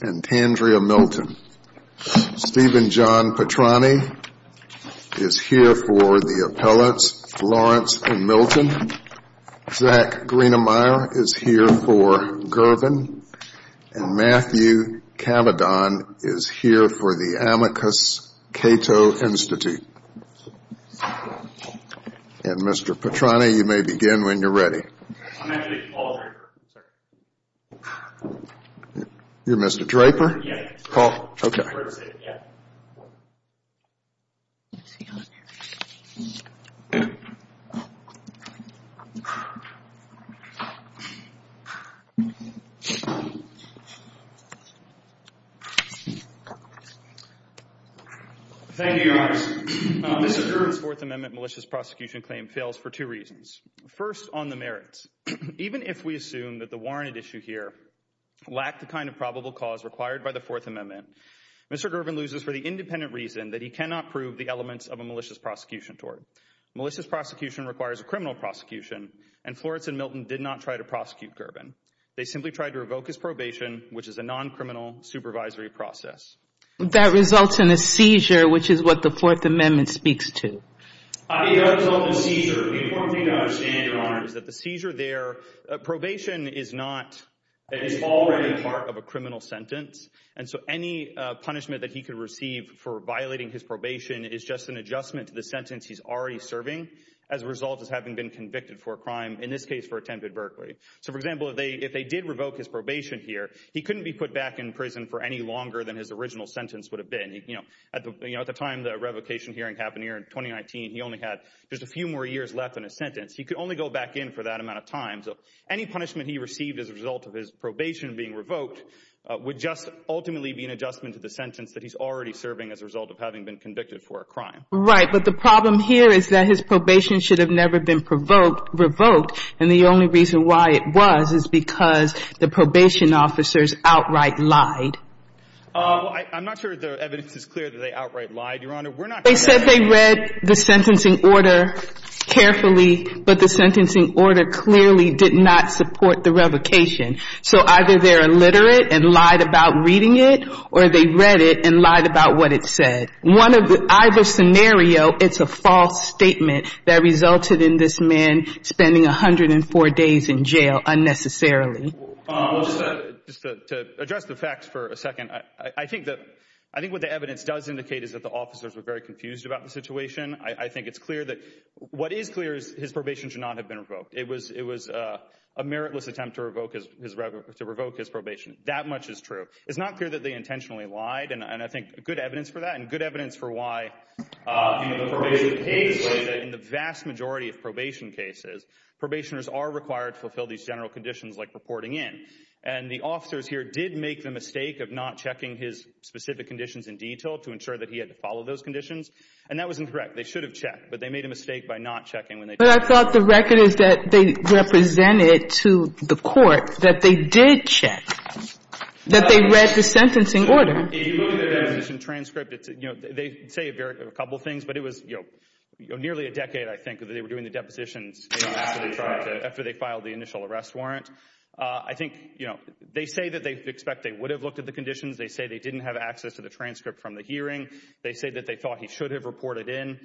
and Tandrea Milton. Stephen John Petrani is here for the appellants Florence and Milton. Zach Greenemeier is here for Gervin. And Matthew Cavadon is here for the Amicus Cato Institute. And Mr. Petrani, you may begin when you're ready. I'm actually Paul Draper, sir. You're Mr. Draper? Yeah. Paul. Okay. Thank you, Your Honor. Mr. Gervin's Fourth Amendment malicious prosecution claim fails for two reasons. First, on the merits. Even if we assume that the warranted issue here lacked the kind of probable cause required by the Fourth Amendment, Mr. Gervin loses for the independent reason that he cannot prove the elements of a malicious prosecution tort. Malicious prosecution requires a criminal prosecution, and Florence and Milton did not try to prosecute Gervin. They simply tried to revoke his probation, which is a non-criminal supervisory process. That results in a seizure, which is what the Fourth Amendment speaks to. The result of the seizure, the important thing to understand, Your Honor, is that the seizure there, probation is not, is already part of a criminal sentence. And so any punishment that he could receive for violating his probation is just an adjustment to the sentence he's already serving, as a result of having been convicted for a crime, in this case for attempted burglary. So, for example, if they did revoke his probation here, he couldn't be put back in prison for any longer than his original sentence would have been. You know, at the time the revocation hearing happened here in 2019, he only had just a few more years left in his sentence. He could only go back in for that amount of time. So any punishment he received as a result of his probation being revoked would just ultimately be an adjustment to the sentence that he's already serving as a result of having been convicted for a crime. Right, but the problem here is that his probation should have never been provoked, revoked, and the only reason why it was is because the probation officers outright lied. I'm not sure the evidence is clear that they outright lied, Your Honor. They said they read the sentencing order carefully, but the sentencing order clearly did not support the revocation. So either they're illiterate and lied about reading it, or they read it and lied about what it said. Either scenario, it's a false statement that resulted in this man spending 104 days in jail unnecessarily. Well, just to address the facts for a second, I think what the evidence does indicate is that the officers were very confused about the situation. I think it's clear that what is clear is his probation should not have been revoked. It was a meritless attempt to revoke his probation. That much is true. It's not clear that they intentionally lied, and I think good evidence for that, and good evidence for why the probation case is that in the vast majority of probation cases, probationers are required to fulfill these general conditions like reporting in. And the officers here did make the mistake of not checking his specific conditions in detail to ensure that he had to follow those conditions, and that was incorrect. They should have checked, but they made a mistake by not checking when they did. But I thought the record is that they represented to the court that they did check, that they read the sentencing order. If you look at the deposition transcript, they say a couple of things, but it was nearly a decade, I think, that they were doing the depositions after they filed the initial arrest warrant. I think they say that they expect they would have looked at the conditions. They say they didn't have access to the transcript from the hearing. They say that they thought he should have reported in.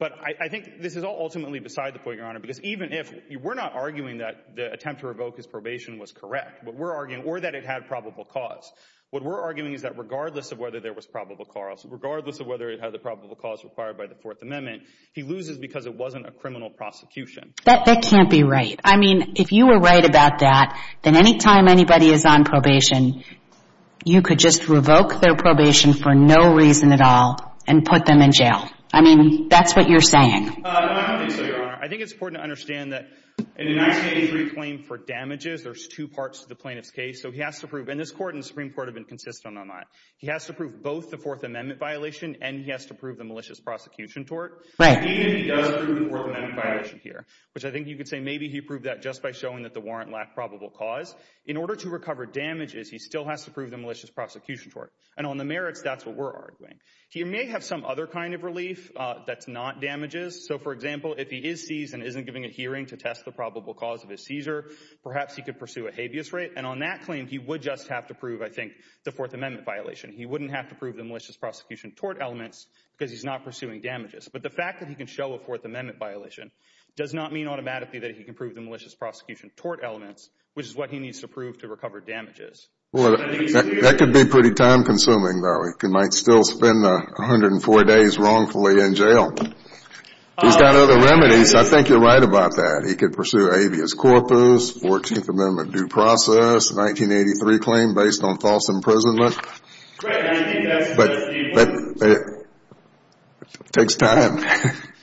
But I think this is all ultimately beside the point, Your Honor, because even if we're not arguing that the attempt to revoke his probation was correct, or that it had probable cause, what we're arguing is that regardless of whether there was probable cause, regardless of whether it had the probable cause required by the Fourth Amendment, he loses because it wasn't a criminal prosecution. That can't be right. I mean, if you were right about that, then any time anybody is on probation, you could just revoke their probation for no reason at all and put them in jail. I mean, that's what you're saying. I don't think so, Your Honor. I think it's important to understand that in a 1983 claim for damages, there's two parts to the plaintiff's case. So he has to prove, and this Court and the Supreme Court have been consistent on that. He has to prove both the Fourth Amendment violation and he has to prove the malicious prosecution tort. Even if he does prove the Fourth Amendment violation here, which I think you could say maybe he proved that just by showing that the warrant lacked probable cause, in order to recover damages, he still has to prove the malicious prosecution tort. And on the merits, that's what we're arguing. He may have some other kind of relief that's not damages. So, for example, if he is seized and isn't giving a hearing to test the probable cause of his seizure, perhaps he could pursue a habeas rate. And on that claim, he would just have to prove, I think, the Fourth Amendment violation. He wouldn't have to prove the malicious prosecution tort elements because he's not pursuing damages. But the fact that he can show a Fourth Amendment violation does not mean automatically that he can prove the malicious prosecution tort elements, which is what he needs to prove to recover damages. Well, that could be pretty time-consuming, though. He might still spend 104 days wrongfully in jail. He's got other remedies. I think you're right about that. He could pursue habeas corpus, 14th Amendment due process, 1983 claim based on false imprisonment. But it takes time.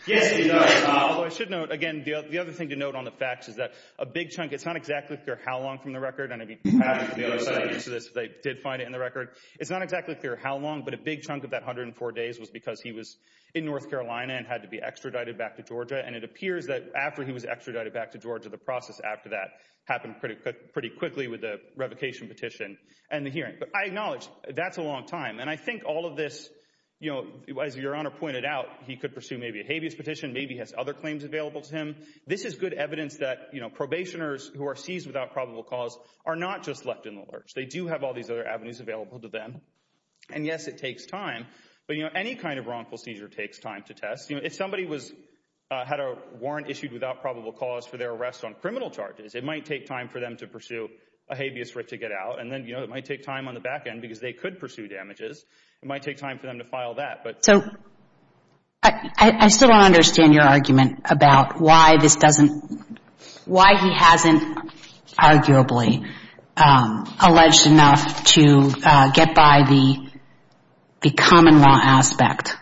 Yes, he does. I should note, again, the other thing to note on the facts is that a big chunk, it's not exactly clear how long from the record. And I mean, perhaps they did find it in the record. It's not exactly clear how long, but a big chunk of that 104 days was because he was in North Carolina and had to be extradited back to Georgia. And it appears that after he was extradited back to Georgia, the process after that happened pretty quickly with the revocation petition and the hearing. But I acknowledge that's a long time. And I think all of this, you know, as Your Honor pointed out, he could pursue maybe a habeas petition. Maybe he has other claims available to him. This is good evidence that, you know, probationers who are seized without probable cause are not just left in the lurch. They do have all these other avenues available to them. And, yes, it takes time. But, you know, any kind of wrongful seizure takes time to test. You know, if somebody had a warrant issued without probable cause for their arrest on criminal charges, it might take time for them to pursue a habeas writ to get out. And then, you know, it might take time on the back end because they could pursue damages. It might take time for them to file that. So I still don't understand your argument about why this doesn't, why he hasn't arguably alleged enough to get by the common law aspect,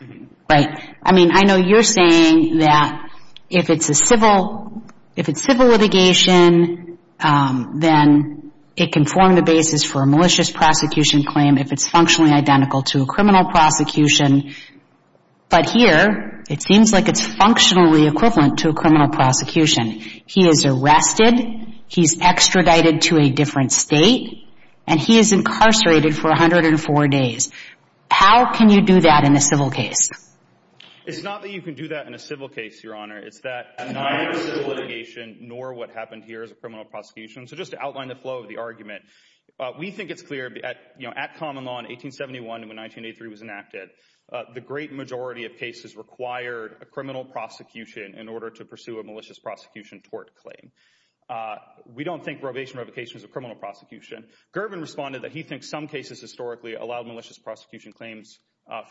right? I mean, I know you're saying that if it's a civil litigation, then it can form the basis for a malicious prosecution claim if it's functionally identical to a criminal prosecution. But here, it seems like it's functionally equivalent to a criminal prosecution. He is arrested. He's extradited to a different state. And he is incarcerated for 104 days. How can you do that in a civil case? It's not that you can do that in a civil case, Your Honor. It's that neither civil litigation nor what happened here is a criminal prosecution. So just to outline the flow of the argument, we think it's clear that, you know, at common law in 1871 and when 1983 was enacted, the great majority of cases required a criminal prosecution in order to pursue a malicious prosecution tort claim. We don't think probation revocation is a criminal prosecution. Gervin responded that he thinks some cases historically allowed malicious prosecution claims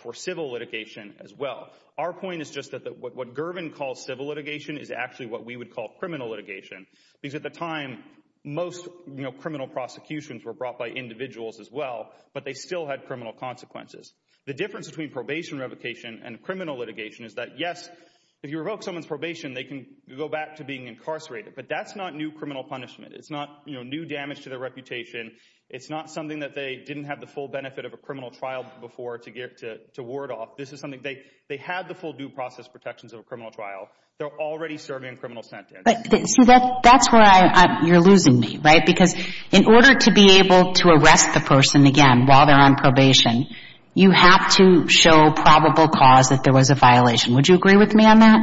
for civil litigation as well. Our point is just that what Gervin calls civil litigation is actually what we would call criminal litigation. Because at the time, most criminal prosecutions were brought by individuals as well, but they still had criminal consequences. The difference between probation revocation and criminal litigation is that, yes, if you revoke someone's probation, they can go back to being incarcerated. But that's not new criminal punishment. It's not, you know, new damage to their reputation. It's not something that they didn't have the full benefit of a criminal trial before to ward off. This is something they had the full due process protections of a criminal trial. They're already serving a criminal sentence. But see, that's where you're losing me, right? Because in order to be able to arrest the person again while they're on probation, you have to show probable cause that there was a violation. Would you agree with me on that?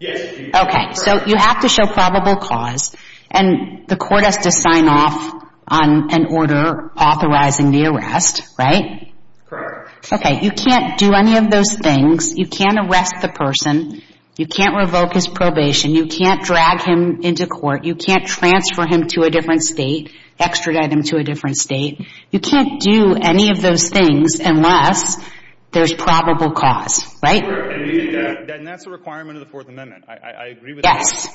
Yes, I do. Okay. So you have to show probable cause. And the court has to sign off on an order authorizing the arrest, right? Correct. Okay. You can't do any of those things. You can't arrest the person. You can't revoke his probation. You can't drag him into court. You can't transfer him to a different State, extradite him to a different State. You can't do any of those things unless there's probable cause, right? And that's a requirement of the Fourth Amendment. I agree with you.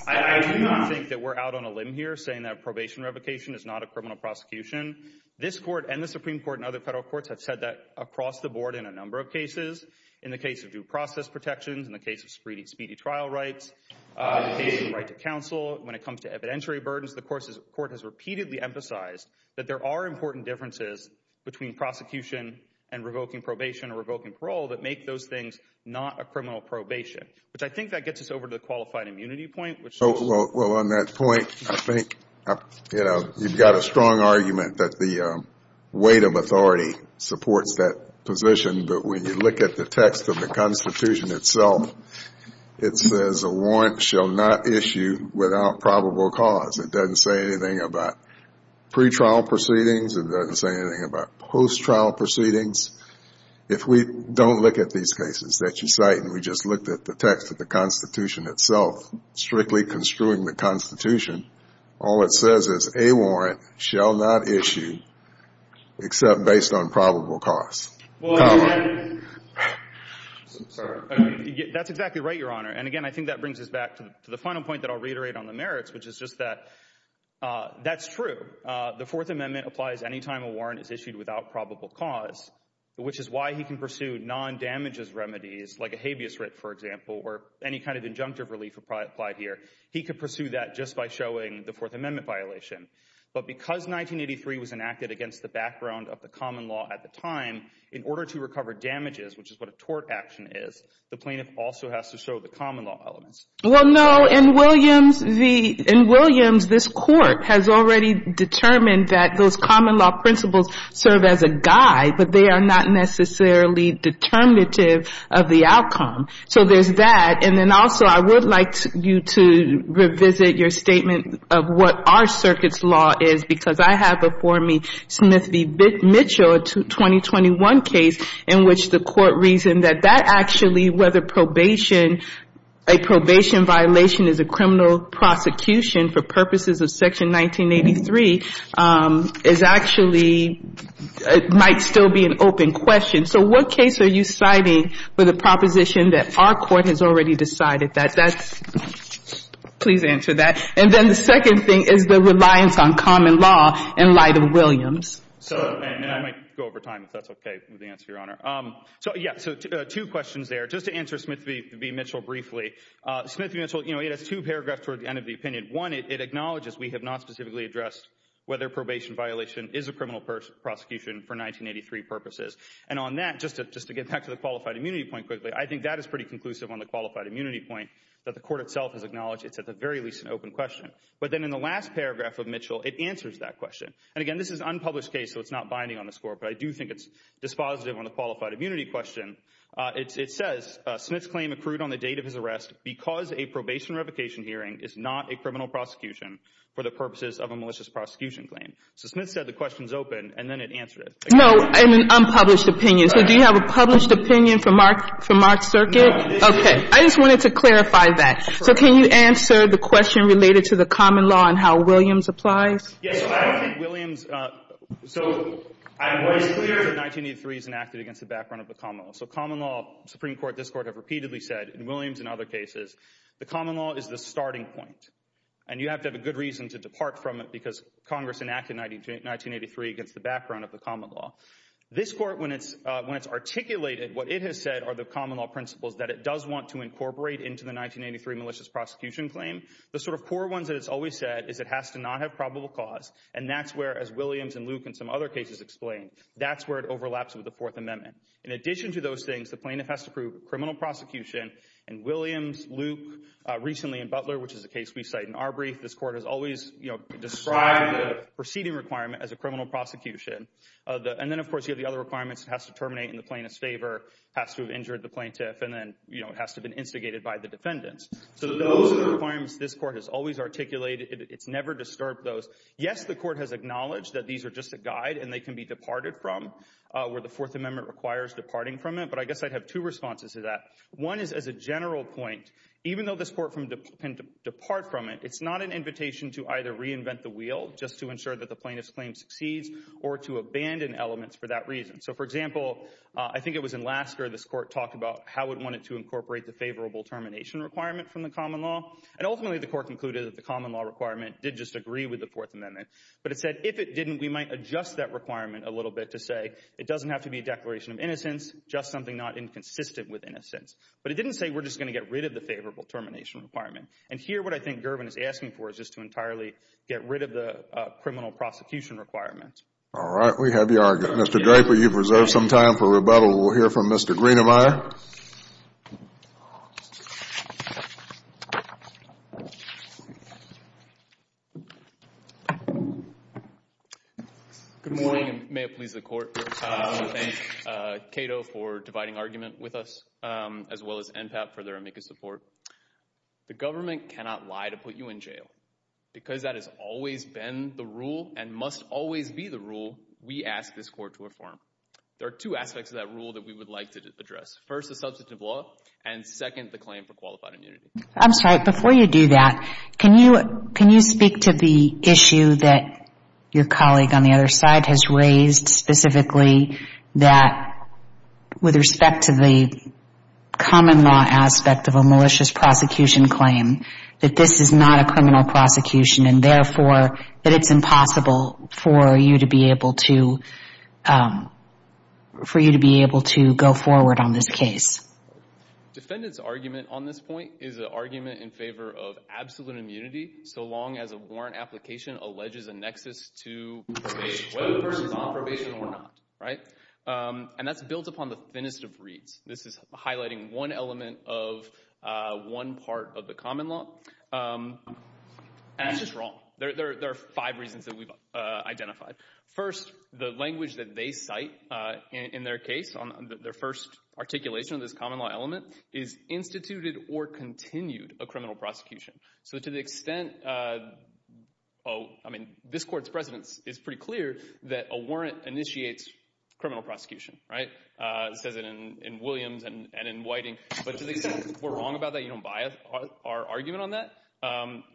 I do not think that we're out on a limb here saying that probation revocation is not a criminal prosecution. This court and the Supreme Court and other federal courts have said that across the board in a number of cases. In the case of due process protections, in the case of speedy trial rights, in the case of the right to counsel, when it comes to evidentiary burdens, the court has repeatedly emphasized that there are important differences between prosecution and revoking probation or revoking parole that make those things not a criminal probation. But I think that gets us over to the qualified immunity point. Well, on that point, I think, you know, you've got a strong argument that the weight of authority supports that position. But when you look at the text of the Constitution itself, it says a warrant shall not issue without probable cause. It doesn't say anything about pretrial proceedings. It doesn't say anything about post-trial proceedings. If we don't look at these cases that you cite and we just looked at the text of the Constitution itself, strictly construing the Constitution, all it says is a warrant shall not issue except based on probable cause. Well, that's exactly right, Your Honor. And, again, I think that brings us back to the final point that I'll reiterate on the merits, which is just that that's true. The Fourth Amendment applies any time a warrant is issued without probable cause, which is why he can pursue non-damages remedies like a habeas writ, for example, or any kind of injunctive relief would probably apply here. He could pursue that just by showing the Fourth Amendment violation. But because 1983 was enacted against the background of the common law at the time, in order to recover damages, which is what a tort action is, the plaintiff also has to show the common law elements. Well, no, in Williams, this Court has already determined that those common law principles serve as a guide, but they are not necessarily determinative of the outcome. So there's that. And then also I would like you to revisit your statement of what our circuit's law is, because I have before me Smith v. Mitchell, a 2021 case, in which the Court reasoned that that actually, whether probation, a probation violation is a criminal prosecution for purposes of Section 1983, is actually, might still be an open question. So what case are you citing for the proposition that our Court has already decided that that's, please answer that. And then the second thing is the reliance on common law in light of Williams. So I might go over time if that's OK with the answer, Your Honor. So, yeah, so two questions there. Just to answer Smith v. Mitchell briefly. Smith v. Mitchell, you know, it has two paragraphs toward the end of the opinion. One, it acknowledges we have not specifically addressed whether probation violation is a criminal prosecution for 1983 purposes. And on that, just to get back to the qualified immunity point quickly, I think that is pretty conclusive on the qualified immunity point that the Court itself has acknowledged. It's at the very least an open question. But then in the last paragraph of Mitchell, it answers that question. And, again, this is an unpublished case, so it's not binding on the score, but I do think it's dispositive on the qualified immunity question. It says, Smith's claim accrued on the date of his arrest because a probation revocation hearing is not a criminal prosecution for the purposes of a malicious prosecution claim. So Smith said the question's open, and then it answered it. No, in an unpublished opinion. So do you have a published opinion for Mark's circuit? No, I didn't. OK. I just wanted to clarify that. So can you answer the question related to the common law and how Williams applies? Yes, so I think Williams—so what is clear is that 1983 is enacted against the background of the common law. So common law, Supreme Court, this Court have repeatedly said, and Williams and other cases, the common law is the starting point, and you have to have a good reason to depart from it because Congress enacted 1983 against the background of the common law. This Court, when it's articulated, what it has said are the common law principles that it does want to incorporate into the 1983 malicious prosecution claim. The sort of core ones that it's always said is it has to not have probable cause, and that's where, as Williams and Luke and some other cases explain, that's where it overlaps with the Fourth Amendment. In addition to those things, the plaintiff has to prove criminal prosecution, and Williams, Luke, recently in Butler, which is a case we cite in our brief, this Court has always described the proceeding requirement as a criminal prosecution. And then, of course, you have the other requirements. It has to terminate in the plaintiff's favor, has to have injured the plaintiff, and then it has to have been instigated by the defendants. So those are the requirements this Court has always articulated. It's never disturbed those. Yes, the Court has acknowledged that these are just a guide, and they can be departed from where the Fourth Amendment requires departing from it, but I guess I'd have two responses to that. One is as a general point, even though this Court can depart from it, it's not an invitation to either reinvent the wheel just to ensure that the plaintiff's claim succeeds or to abandon elements for that reason. So, for example, I think it was in Lasker this Court talked about how it wanted to incorporate the favorable termination requirement from the common law, and ultimately the Court concluded that the common law requirement did just agree with the Fourth Amendment. But it said if it didn't, we might adjust that requirement a little bit to say it doesn't have to be a declaration of innocence, just something not inconsistent with innocence. But it didn't say we're just going to get rid of the favorable termination requirement. And here what I think Girvin is asking for is just to entirely get rid of the criminal prosecution requirement. All right. We have your argument. Mr. Draper, you've reserved some time for rebuttal. We'll hear from Mr. Greenemeyer. Good morning, and may it please the Court. I want to thank Cato for dividing argument with us, as well as NPAP for their amicus support. The government cannot lie to put you in jail. Because that has always been the rule and must always be the rule, we ask this Court to reform. There are two aspects of that rule that we would like to address. First, the substantive law, and second, the claim for qualified immunity. I'm sorry, before you do that, can you speak to the issue that your colleague on the other side has raised, specifically that with respect to the common law aspect of a malicious prosecution claim, that this is not a criminal prosecution, and therefore that it's impossible for you to be able to go forward on this case. Defendant's argument on this point is an argument in favor of absolute immunity, so long as a warrant application alleges a nexus to probation, whether the person is on probation or not. And that's built upon the thinnest of reeds. This is highlighting one element of one part of the common law, and it's just wrong. There are five reasons that we've identified. First, the language that they cite in their case, their first articulation of this common law element, is instituted or continued a criminal prosecution. So to the extent, I mean, this Court's precedence is pretty clear that a warrant initiates criminal prosecution. It says it in Williams and in Whiting. But to the extent that we're wrong about that, you don't buy our argument on that,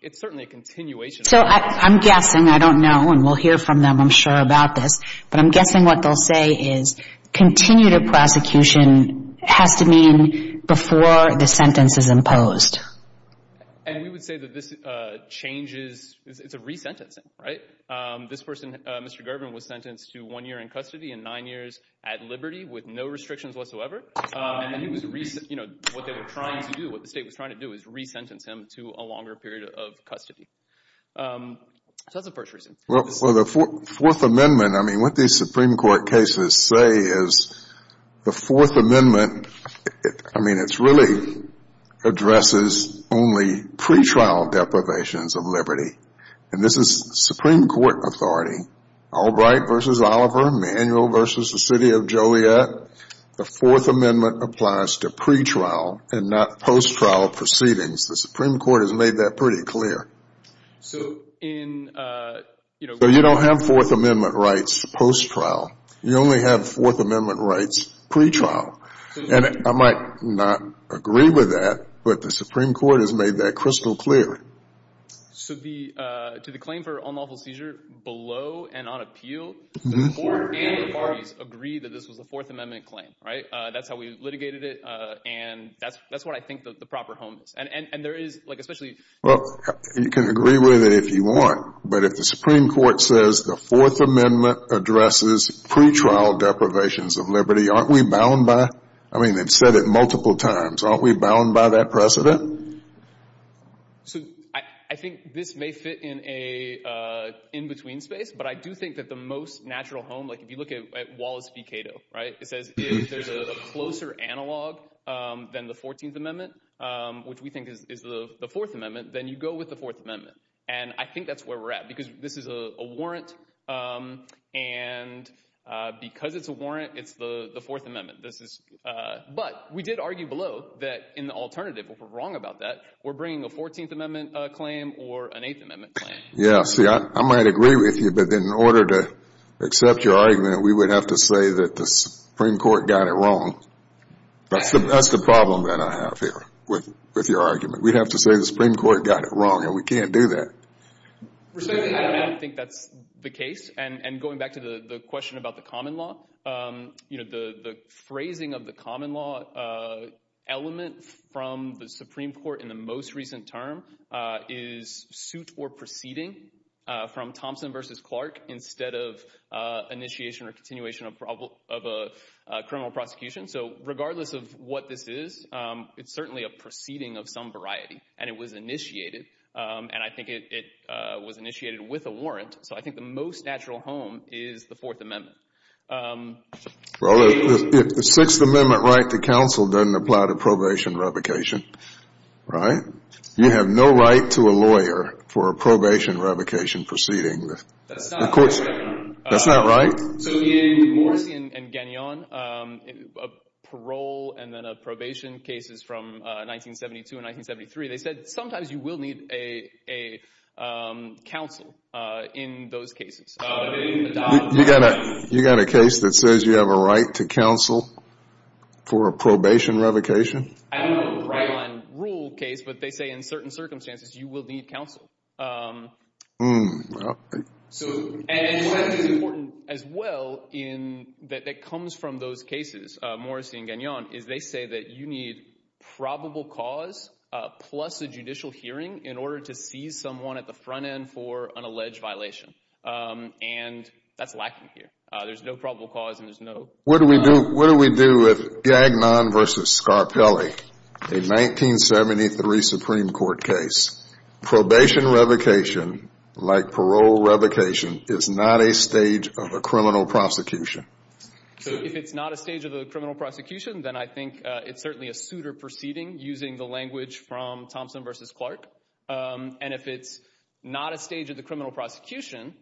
it's certainly a continuation. So I'm guessing, I don't know, and we'll hear from them, I'm sure, about this, but I'm guessing what they'll say is continue to prosecution has to mean before the sentence is imposed. And we would say that this changes, it's a resentencing. Right? This person, Mr. Gerben, was sentenced to one year in custody and nine years at liberty with no restrictions whatsoever. And he was, you know, what they were trying to do, what the state was trying to do, was resentence him to a longer period of custody. So that's the first reason. Well, the Fourth Amendment, I mean, what these Supreme Court cases say is the Fourth Amendment, I mean, it really addresses only pretrial deprivations of liberty. And this is Supreme Court authority. Albright v. Oliver, Emanuel v. the City of Joliet, the Fourth Amendment applies to pretrial and not post-trial proceedings. The Supreme Court has made that pretty clear. So in, you know, So you don't have Fourth Amendment rights post-trial. You only have Fourth Amendment rights pretrial. And I might not agree with that, but the Supreme Court has made that crystal clear. So to the claim for unlawful seizure, below and on appeal, the Court and the parties agree that this was a Fourth Amendment claim, right? That's how we litigated it. And that's what I think the proper home is. And there is, like, especially Well, you can agree with it if you want. But if the Supreme Court says the Fourth Amendment addresses pretrial deprivations of liberty, aren't we bound by it? I mean, they've said it multiple times. Aren't we bound by that precedent? So I think this may fit in a in-between space. But I do think that the most natural home, like if you look at Wallace v. Cato, right? It says if there's a closer analog than the 14th Amendment, which we think is the Fourth Amendment, then you go with the Fourth Amendment. And I think that's where we're at because this is a warrant. And because it's a warrant, it's the Fourth Amendment. But we did argue below that in the alternative, if we're wrong about that, we're bringing a 14th Amendment claim or an Eighth Amendment claim. Yeah, see, I might agree with you. But in order to accept your argument, we would have to say that the Supreme Court got it wrong. That's the problem that I have here with your argument. We'd have to say the Supreme Court got it wrong, and we can't do that. Respectfully, I don't think that's the case. And going back to the question about the common law, the phrasing of the common law element from the Supreme Court in the most recent term is suit or proceeding from Thompson v. Clark instead of initiation or continuation of a criminal prosecution. So regardless of what this is, it's certainly a proceeding of some variety. And it was initiated. And I think it was initiated with a warrant. So I think the most natural home is the Fourth Amendment. Well, if the Sixth Amendment right to counsel doesn't apply to probation revocation, right, you have no right to a lawyer for a probation revocation proceeding. That's not right. That's not right? So in Morrissey and Gagnon, a parole and then a probation cases from 1972 and 1973, they said sometimes you will need a counsel in those cases. You got a case that says you have a right to counsel for a probation revocation? I don't know the right on rule case, but they say in certain circumstances you will need counsel. And what I think is important as well that comes from those cases, Morrissey and Gagnon, is they say that you need probable cause plus a judicial hearing in order to seize someone at the front end for an alleged violation. And that's lacking here. There's no probable cause and there's no… What do we do with Gagnon v. Scarpelli, a 1973 Supreme Court case? Probation revocation, like parole revocation, is not a stage of a criminal prosecution. So if it's not a stage of a criminal prosecution, then I think it's certainly a suitor proceeding using the language from Thompson v. Clark. And if it's not a stage of the criminal prosecution,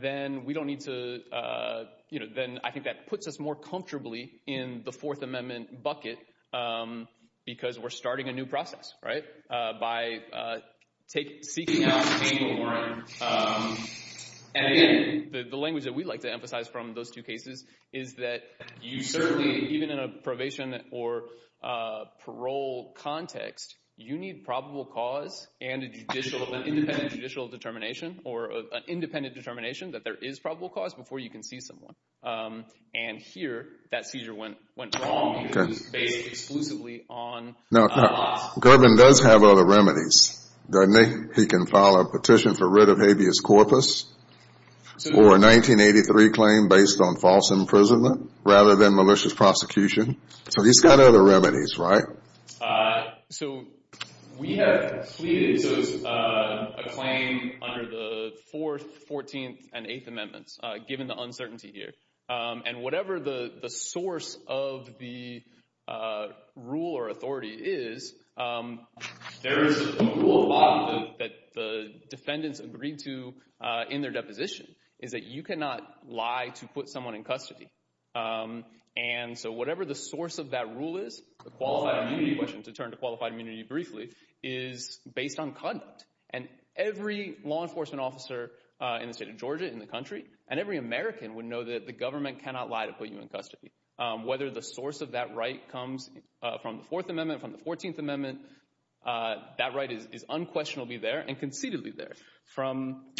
then we don't need to… I think that puts us more comfortably in the Fourth Amendment bucket because we're starting a new process, right? And again, the language that we like to emphasize from those two cases is that you certainly, even in a probation or parole context, you need probable cause and an independent judicial determination or an independent determination that there is probable cause before you can seize someone. And here, that seizure went wrong because it's based exclusively on… Now, Gerben does have other remedies, doesn't he? He can file a petition for writ of habeas corpus or a 1983 claim based on false imprisonment rather than malicious prosecution. So he's got other remedies, right? So we have pleaded a claim under the Fourth, Fourteenth, and Eighth Amendments given the uncertainty here. And whatever the source of the rule or authority is, there is a rule of law that the defendants agreed to in their deposition is that you cannot lie to put someone in custody. And so whatever the source of that rule is, the qualified immunity question, to turn to qualified immunity briefly, is based on conduct. And every law enforcement officer in the state of Georgia, in the country, and every American would know that the government cannot lie to put you in custody. Whether the source of that right comes from the Fourth Amendment, from the Fourteenth Amendment, that right is unquestionably there and concededly there.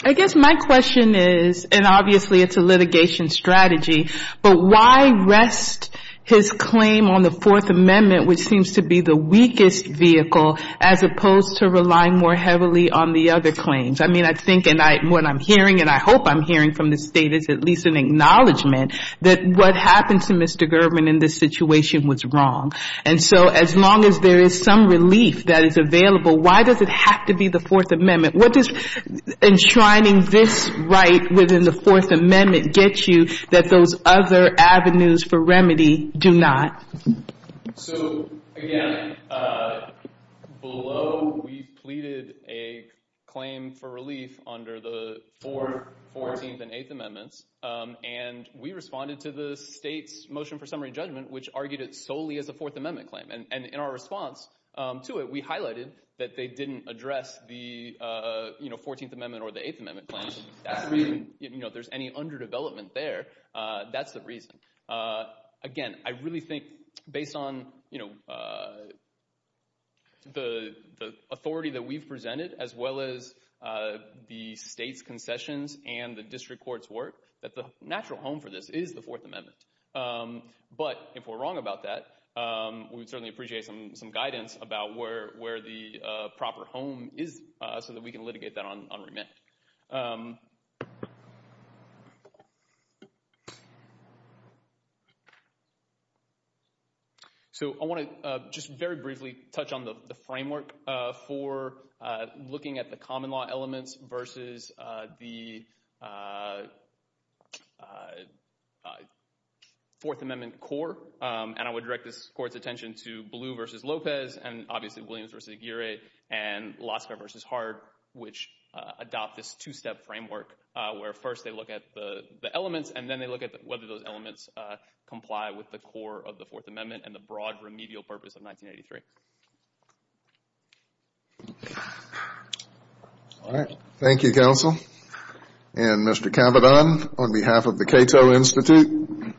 I guess my question is, and obviously it's a litigation strategy, but why rest his claim on the Fourth Amendment, which seems to be the weakest vehicle, as opposed to relying more heavily on the other claims? I mean, I think and what I'm hearing and I hope I'm hearing from the state is at least an acknowledgement that what happened to Mr. Gerben in this situation was wrong. And so as long as there is some relief that is available, why does it have to be the Fourth Amendment? What does enshrining this right within the Fourth Amendment get you that those other avenues for remedy do not? So, again, below we pleaded a claim for relief under the Fourth, Fourteenth, and Eighth Amendments. And we responded to the state's motion for summary judgment, which argued it solely as a Fourth Amendment claim. And in our response to it, we highlighted that they didn't address the Fourteenth Amendment or the Eighth Amendment claim. If there's any underdevelopment there, that's the reason. Again, I really think based on the authority that we've presented, as well as the state's concessions and the district court's work, that the natural home for this is the Fourth Amendment. But if we're wrong about that, we would certainly appreciate some guidance about where the proper home is so that we can litigate that on remand. So I want to just very briefly touch on the framework for looking at the common law elements versus the Fourth Amendment core. And I would direct this Court's attention to Blue v. Lopez, and obviously Williams v. Aguirre, and Laska v. Hart, which adopt this two-step framework, where first they look at the elements, and then they look at whether those elements comply with the core of the Fourth Amendment and the broad remedial purpose of 1983. All right. Thank you, counsel. And, Mr. Cavidan, on behalf of the Cato Institute.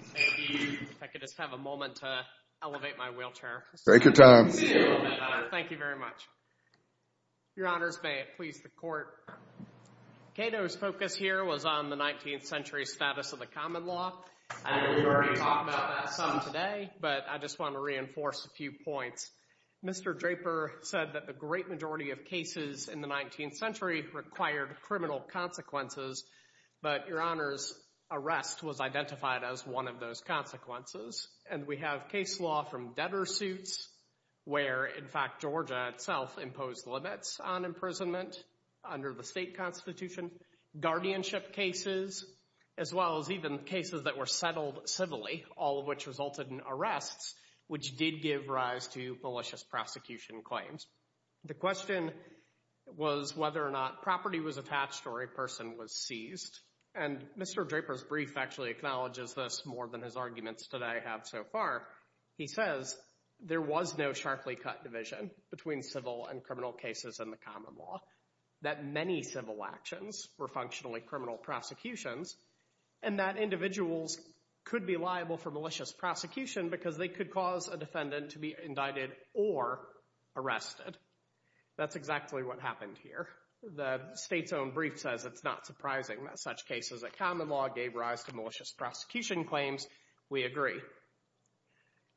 If I could just have a moment to elevate my wheelchair. Take your time. Thank you very much. Your Honors, may it please the Court. Cato's focus here was on the 19th century status of the common law. I know we've already talked about that some today, but I just want to reinforce a few points. Mr. Draper said that the great majority of cases in the 19th century required criminal consequences, but, Your Honors, arrest was identified as one of those consequences. And we have case law from debtor suits, where, in fact, Georgia itself imposed limits on imprisonment under the state constitution. Guardianship cases, as well as even cases that were settled civilly, all of which resulted in arrests, which did give rise to malicious prosecution claims. The question was whether or not property was attached or a person was seized. And Mr. Draper's brief actually acknowledges this more than his arguments today have so far. He says there was no sharply cut division between civil and criminal cases in the common law, that many civil actions were functionally criminal prosecutions, and that individuals could be liable for malicious prosecution because they could cause a defendant to be indicted or arrested. That's exactly what happened here. The state's own brief says it's not surprising that such cases of common law gave rise to malicious prosecution claims. We agree.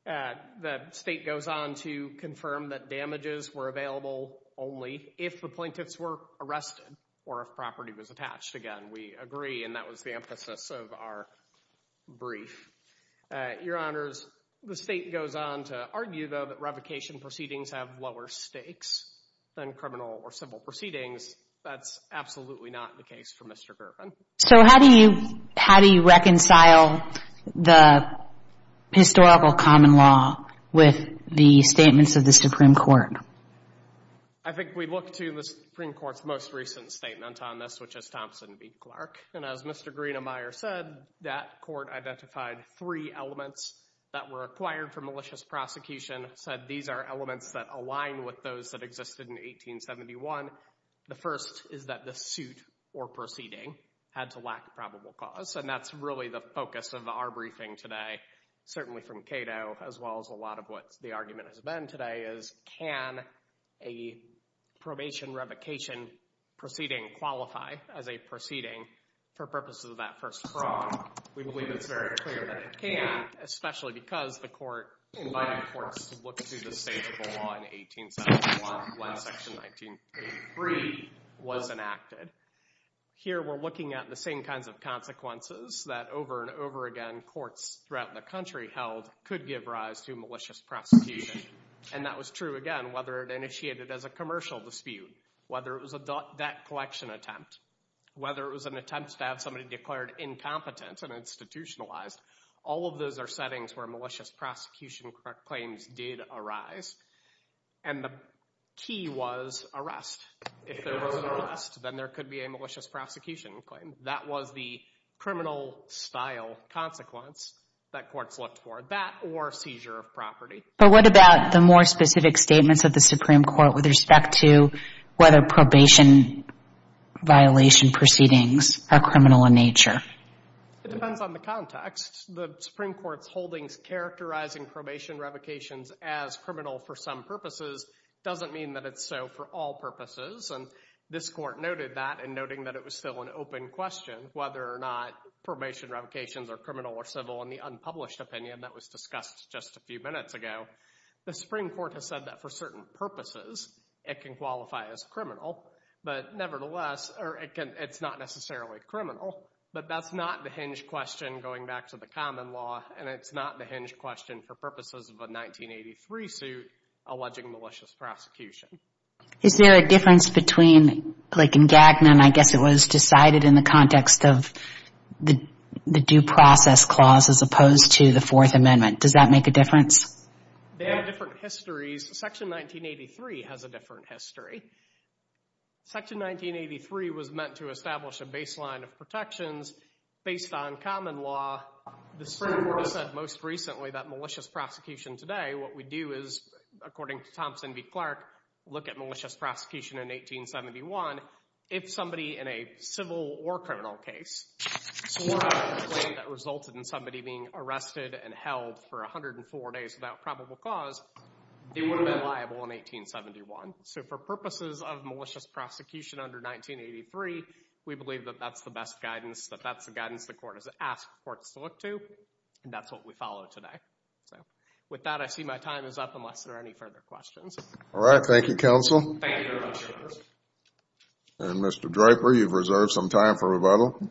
The state goes on to confirm that damages were available only if the plaintiffs were arrested or if property was attached. Again, we agree. And that was the emphasis of our brief. Your Honors, the state goes on to argue, though, that revocation proceedings have lower stakes than criminal or civil proceedings. That's absolutely not the case for Mr. Gervin. So how do you reconcile the historical common law with the statements of the Supreme Court? I think we look to the Supreme Court's most recent statement on this, which is Thompson v. Clark. And as Mr. Greenemeier said, that court identified three elements that were required for malicious prosecution, said these are elements that align with those that existed in 1871. The first is that the suit or proceeding had to lack probable cause. And that's really the focus of our briefing today, certainly from Cato, as well as a lot of what the argument has been today is, can a probation revocation proceeding qualify as a proceeding for purposes of that first fraud? We believe it's very clear that it can, especially because the court invited courts to look through the state of the law in 1871 when Section 1983 was enacted. Here we're looking at the same kinds of consequences that, over and over again, courts throughout the country held could give rise to malicious prosecution. And that was true, again, whether it initiated as a commercial dispute, whether it was a debt collection attempt, whether it was an attempt to have somebody declared incompetent and institutionalized. All of those are settings where malicious prosecution claims did arise. And the key was arrest. If there was an arrest, then there could be a malicious prosecution claim. That was the criminal-style consequence that courts looked for, that or seizure of property. But what about the more specific statements of the Supreme Court with respect to whether probation violation proceedings are criminal in nature? It depends on the context. The Supreme Court's holdings characterizing probation revocations as criminal for some purposes doesn't mean that it's so for all purposes. And this court noted that in noting that it was still an open question whether or not probation revocations are criminal or civil in the unpublished opinion that was discussed just a few minutes ago. The Supreme Court has said that for certain purposes it can qualify as criminal. But nevertheless, or it's not necessarily criminal, but that's not the hinge question going back to the common law, and it's not the hinge question for purposes of a 1983 suit alleging malicious prosecution. Is there a difference between, like in Gagnon, I guess it was decided in the context of the due process clause as opposed to the Fourth Amendment. Does that make a difference? They have different histories. Section 1983 has a different history. Section 1983 was meant to establish a baseline of protections based on common law. The Supreme Court has said most recently that malicious prosecution today, what we do is, according to Thompson v. Clark, look at malicious prosecution in 1871. If somebody in a civil or criminal case swore a complaint that resulted in somebody being arrested and held for 104 days without probable cause, they would have been liable in 1871. So for purposes of malicious prosecution under 1983, we believe that that's the best guidance, that that's the guidance the court has asked courts to look to, and that's what we follow today. So with that, I see my time is up unless there are any further questions. All right. Thank you, counsel. Thank you very much. And Mr. Draper, you've reserved some time for rebuttal. Well,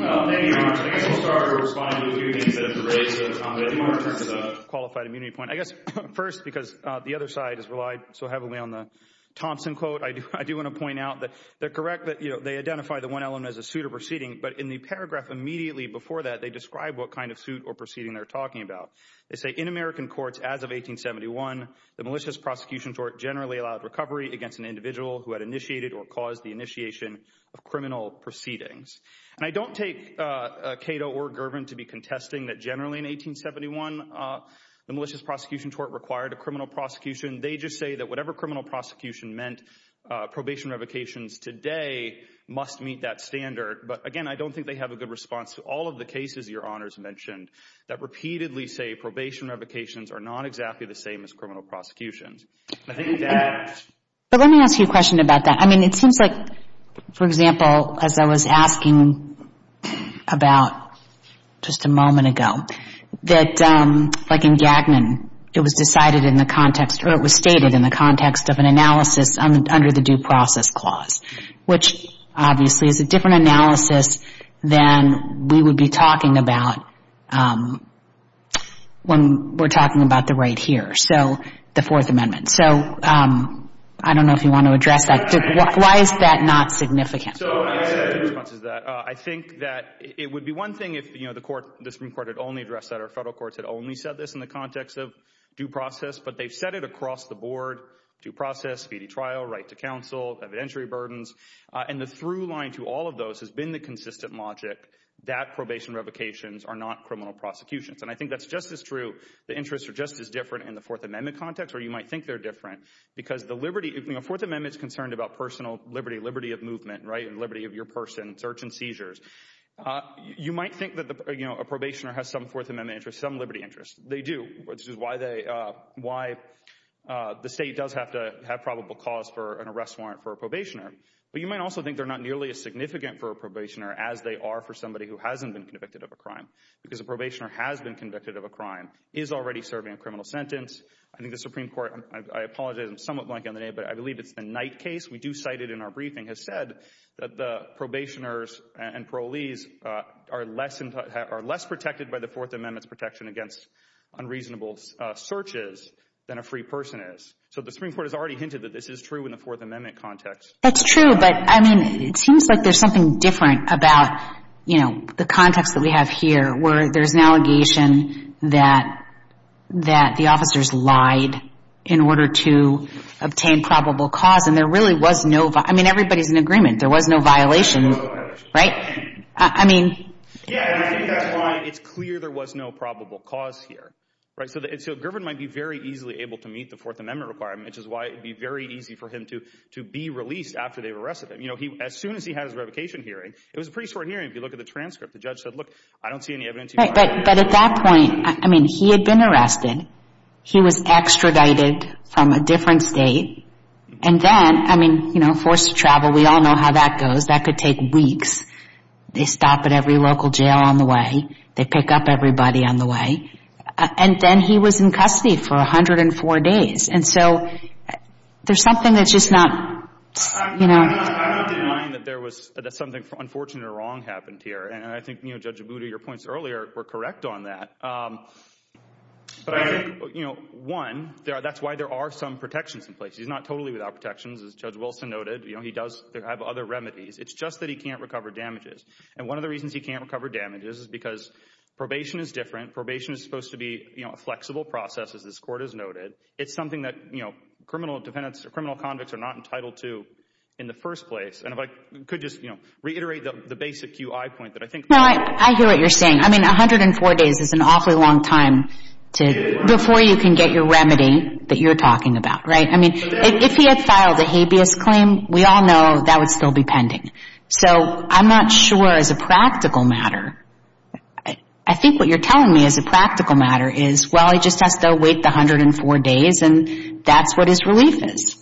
thank you, Your Honor. I guess I'll start by responding to a few things that have been raised. I think my return to the qualified immunity point, I guess, first, because the other side has relied so heavily on the Thompson quote, I do want to point out that they're correct. But, you know, they identify the one element as a suit or proceeding. But in the paragraph immediately before that, they describe what kind of suit or proceeding they're talking about. They say in American courts as of 1871, the malicious prosecution tort generally allowed recovery against an individual who had initiated or caused the initiation of criminal proceedings. And I don't take Cato or Girvin to be contesting that generally in 1871, the malicious prosecution tort required a criminal prosecution. They just say that whatever criminal prosecution meant, probation revocations today must meet that standard. But, again, I don't think they have a good response to all of the cases Your Honors mentioned that repeatedly say probation revocations are not exactly the same as criminal prosecutions. But let me ask you a question about that. I mean, it seems like, for example, as I was asking about just a moment ago, that like in Gagnon, it was decided in the context or it was stated in the context of an analysis under the due process clause, which obviously is a different analysis than we would be talking about when we're talking about the right here. So the Fourth Amendment. So I don't know if you want to address that. Why is that not significant? So my response is that I think that it would be one thing if, you know, the Supreme Court had only addressed that or Federal courts had only said this in the context of due process. But they've said it across the board, due process, speedy trial, right to counsel, evidentiary burdens. And the through line to all of those has been the consistent logic that probation revocations are not criminal prosecutions. And I think that's just as true. The interests are just as different in the Fourth Amendment context or you might think they're different because the liberty of the Fourth Amendment is concerned about personal liberty, liberty of movement, right? And liberty of your person search and seizures. You might think that, you know, a probationer has some Fourth Amendment interest, some liberty interest. They do. This is why they why the state does have to have probable cause for an arrest warrant for a probationer. But you might also think they're not nearly as significant for a probationer as they are for somebody who hasn't been convicted of a crime. Because a probationer has been convicted of a crime, is already serving a criminal sentence. I think the Supreme Court, I apologize I'm somewhat blank on the name, but I believe it's the Knight case, we do cite it in our briefing, has said that the probationers and parolees are less protected by the Fourth Amendment's protection against unreasonable searches than a free person is. So the Supreme Court has already hinted that this is true in the Fourth Amendment context. That's true. But, I mean, it seems like there's something different about, you know, the context that we have here where there's an allegation that the officers lied in order to obtain probable cause. And there really was no, I mean, everybody's in agreement. There was no violation, right? I mean. Yeah, I think that's why it's clear there was no probable cause here. So Gervin might be very easily able to meet the Fourth Amendment requirement, which is why it would be very easy for him to be released after they've arrested him. You know, as soon as he had his revocation hearing, it was a pretty short hearing if you look at the transcript, the judge said, look, I don't see any evidence. But at that point, I mean, he had been arrested. He was extradited from a different state. And then, I mean, you know, forced to travel. We all know how that goes. That could take weeks. They stop at every local jail on the way. They pick up everybody on the way. And then he was in custody for 104 days. And so there's something that's just not, you know. I don't deny that there was something unfortunate or wrong happened here. And I think, you know, Judge Abuda, your points earlier were correct on that. But I think, you know, one, that's why there are some protections in place. He's not totally without protections, as Judge Wilson noted. You know, he does have other remedies. It's just that he can't recover damages. And one of the reasons he can't recover damages is because probation is different. Probation is supposed to be, you know, a flexible process, as this court has noted. It's something that, you know, criminal defendants or criminal convicts are not entitled to in the first place. And if I could just, you know, reiterate the basic UI point that I think. No, I hear what you're saying. I mean, 104 days is an awfully long time before you can get your remedy that you're talking about, right? I mean, if he had filed a habeas claim, we all know that would still be pending. So I'm not sure, as a practical matter, I think what you're telling me as a practical matter is, well, he just has to wait the 104 days, and that's what his relief is.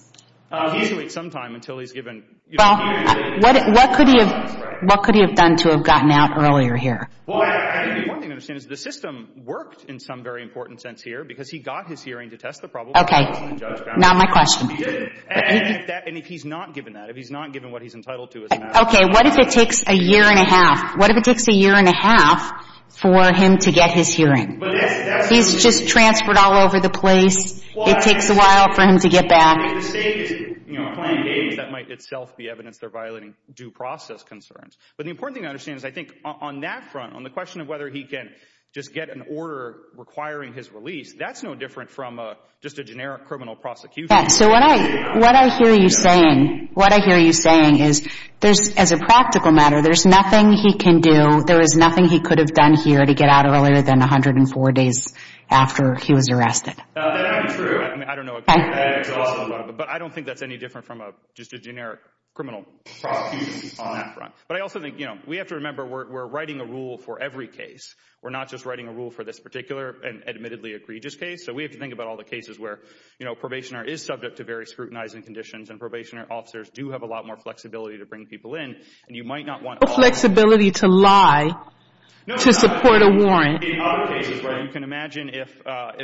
He has to wait some time until he's given, you know, a hearing. Well, what could he have done to have gotten out earlier here? Well, I think one thing to understand is the system worked in some very important sense here because he got his hearing to test the problem. Okay. Not my question. And if he's not given that, if he's not given what he's entitled to, it doesn't matter. Okay. What if it takes a year and a half? What if it takes a year and a half for him to get his hearing? He's just transferred all over the place. It takes a while for him to get back. If the State is, you know, playing games, that might itself be evidence they're violating due process concerns. But the important thing to understand is I think on that front, on the question of whether he can just get an order requiring his release, that's no different from just a generic criminal prosecution. So what I hear you saying is there's, as a practical matter, there's nothing he can do, there is nothing he could have done here to get out earlier than 104 days after he was arrested. That's true. I don't know. But I don't think that's any different from just a generic criminal prosecution on that front. But I also think, you know, we have to remember we're writing a rule for every case. We're not just writing a rule for this particular and admittedly egregious case. So we have to think about all the cases where, you know, a probationer is subject to very scrutinizing conditions and probation officers do have a lot more flexibility to bring people in. And you might not want all of them. No flexibility to lie to support a warrant. In other cases where you can imagine if,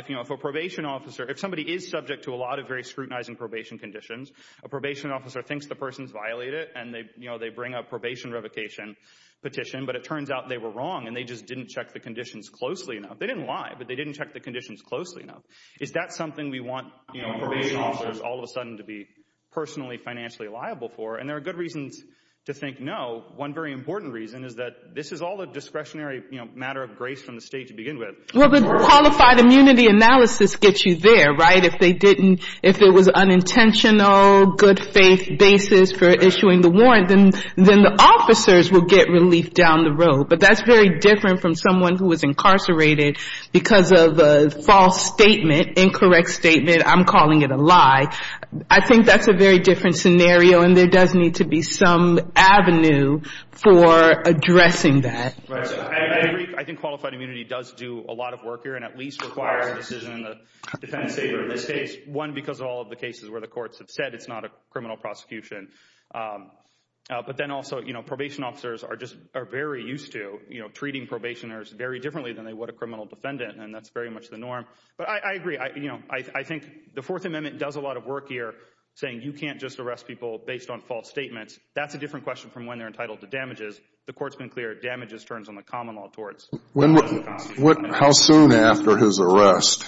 you know, if a probation officer, if somebody is subject to a lot of very scrutinizing probation conditions, a probation officer thinks the person's violated and, you know, they bring a probation revocation petition, but it turns out they were wrong and they just didn't check the conditions closely enough. They didn't lie, but they didn't check the conditions closely enough. Is that something we want, you know, probation officers all of a sudden to be personally financially liable for? And there are good reasons to think no. One very important reason is that this is all a discretionary, you know, matter of grace from the state to begin with. Well, the qualified immunity analysis gets you there, right? If they didn't, if it was unintentional, good faith basis for issuing the warrant, then the officers would get relief down the road. But that's very different from someone who was incarcerated because of a false statement, incorrect statement, I'm calling it a lie. I think that's a very different scenario, and there does need to be some avenue for addressing that. Right. I agree. I think qualified immunity does do a lot of work here and at least requires a decision in the defendant's favor in this case. One, because of all of the cases where the courts have said it's not a criminal prosecution. But then also, you know, probation officers are just very used to, you know, treating probationers very differently than they would a criminal defendant, and that's very much the norm. But I agree. You know, I think the Fourth Amendment does a lot of work here saying you can't just arrest people based on false statements. That's a different question from when they're entitled to damages. The court's been clear. Damages turns on the common law towards the common law. How soon after his arrest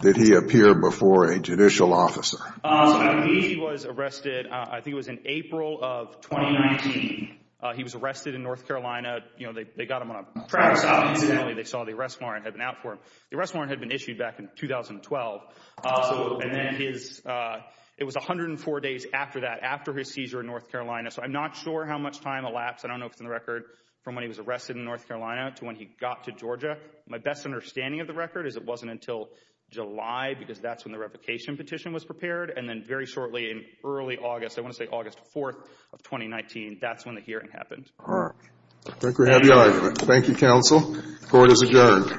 did he appear before a judicial officer? I believe he was arrested, I think it was in April of 2019. He was arrested in North Carolina. You know, they got him on a traverse stop incidentally. They saw the arrest warrant had been out for him. The arrest warrant had been issued back in 2012. And then it was 104 days after that, after his seizure in North Carolina. So I'm not sure how much time elapsed. I don't know if it's in the record from when he was arrested in North Carolina to when he got to Georgia. My best understanding of the record is it wasn't until July because that's when the replication petition was prepared. And then very shortly in early August, I want to say August 4th of 2019, that's when the hearing happened. Thank you, counsel. Court is adjourned.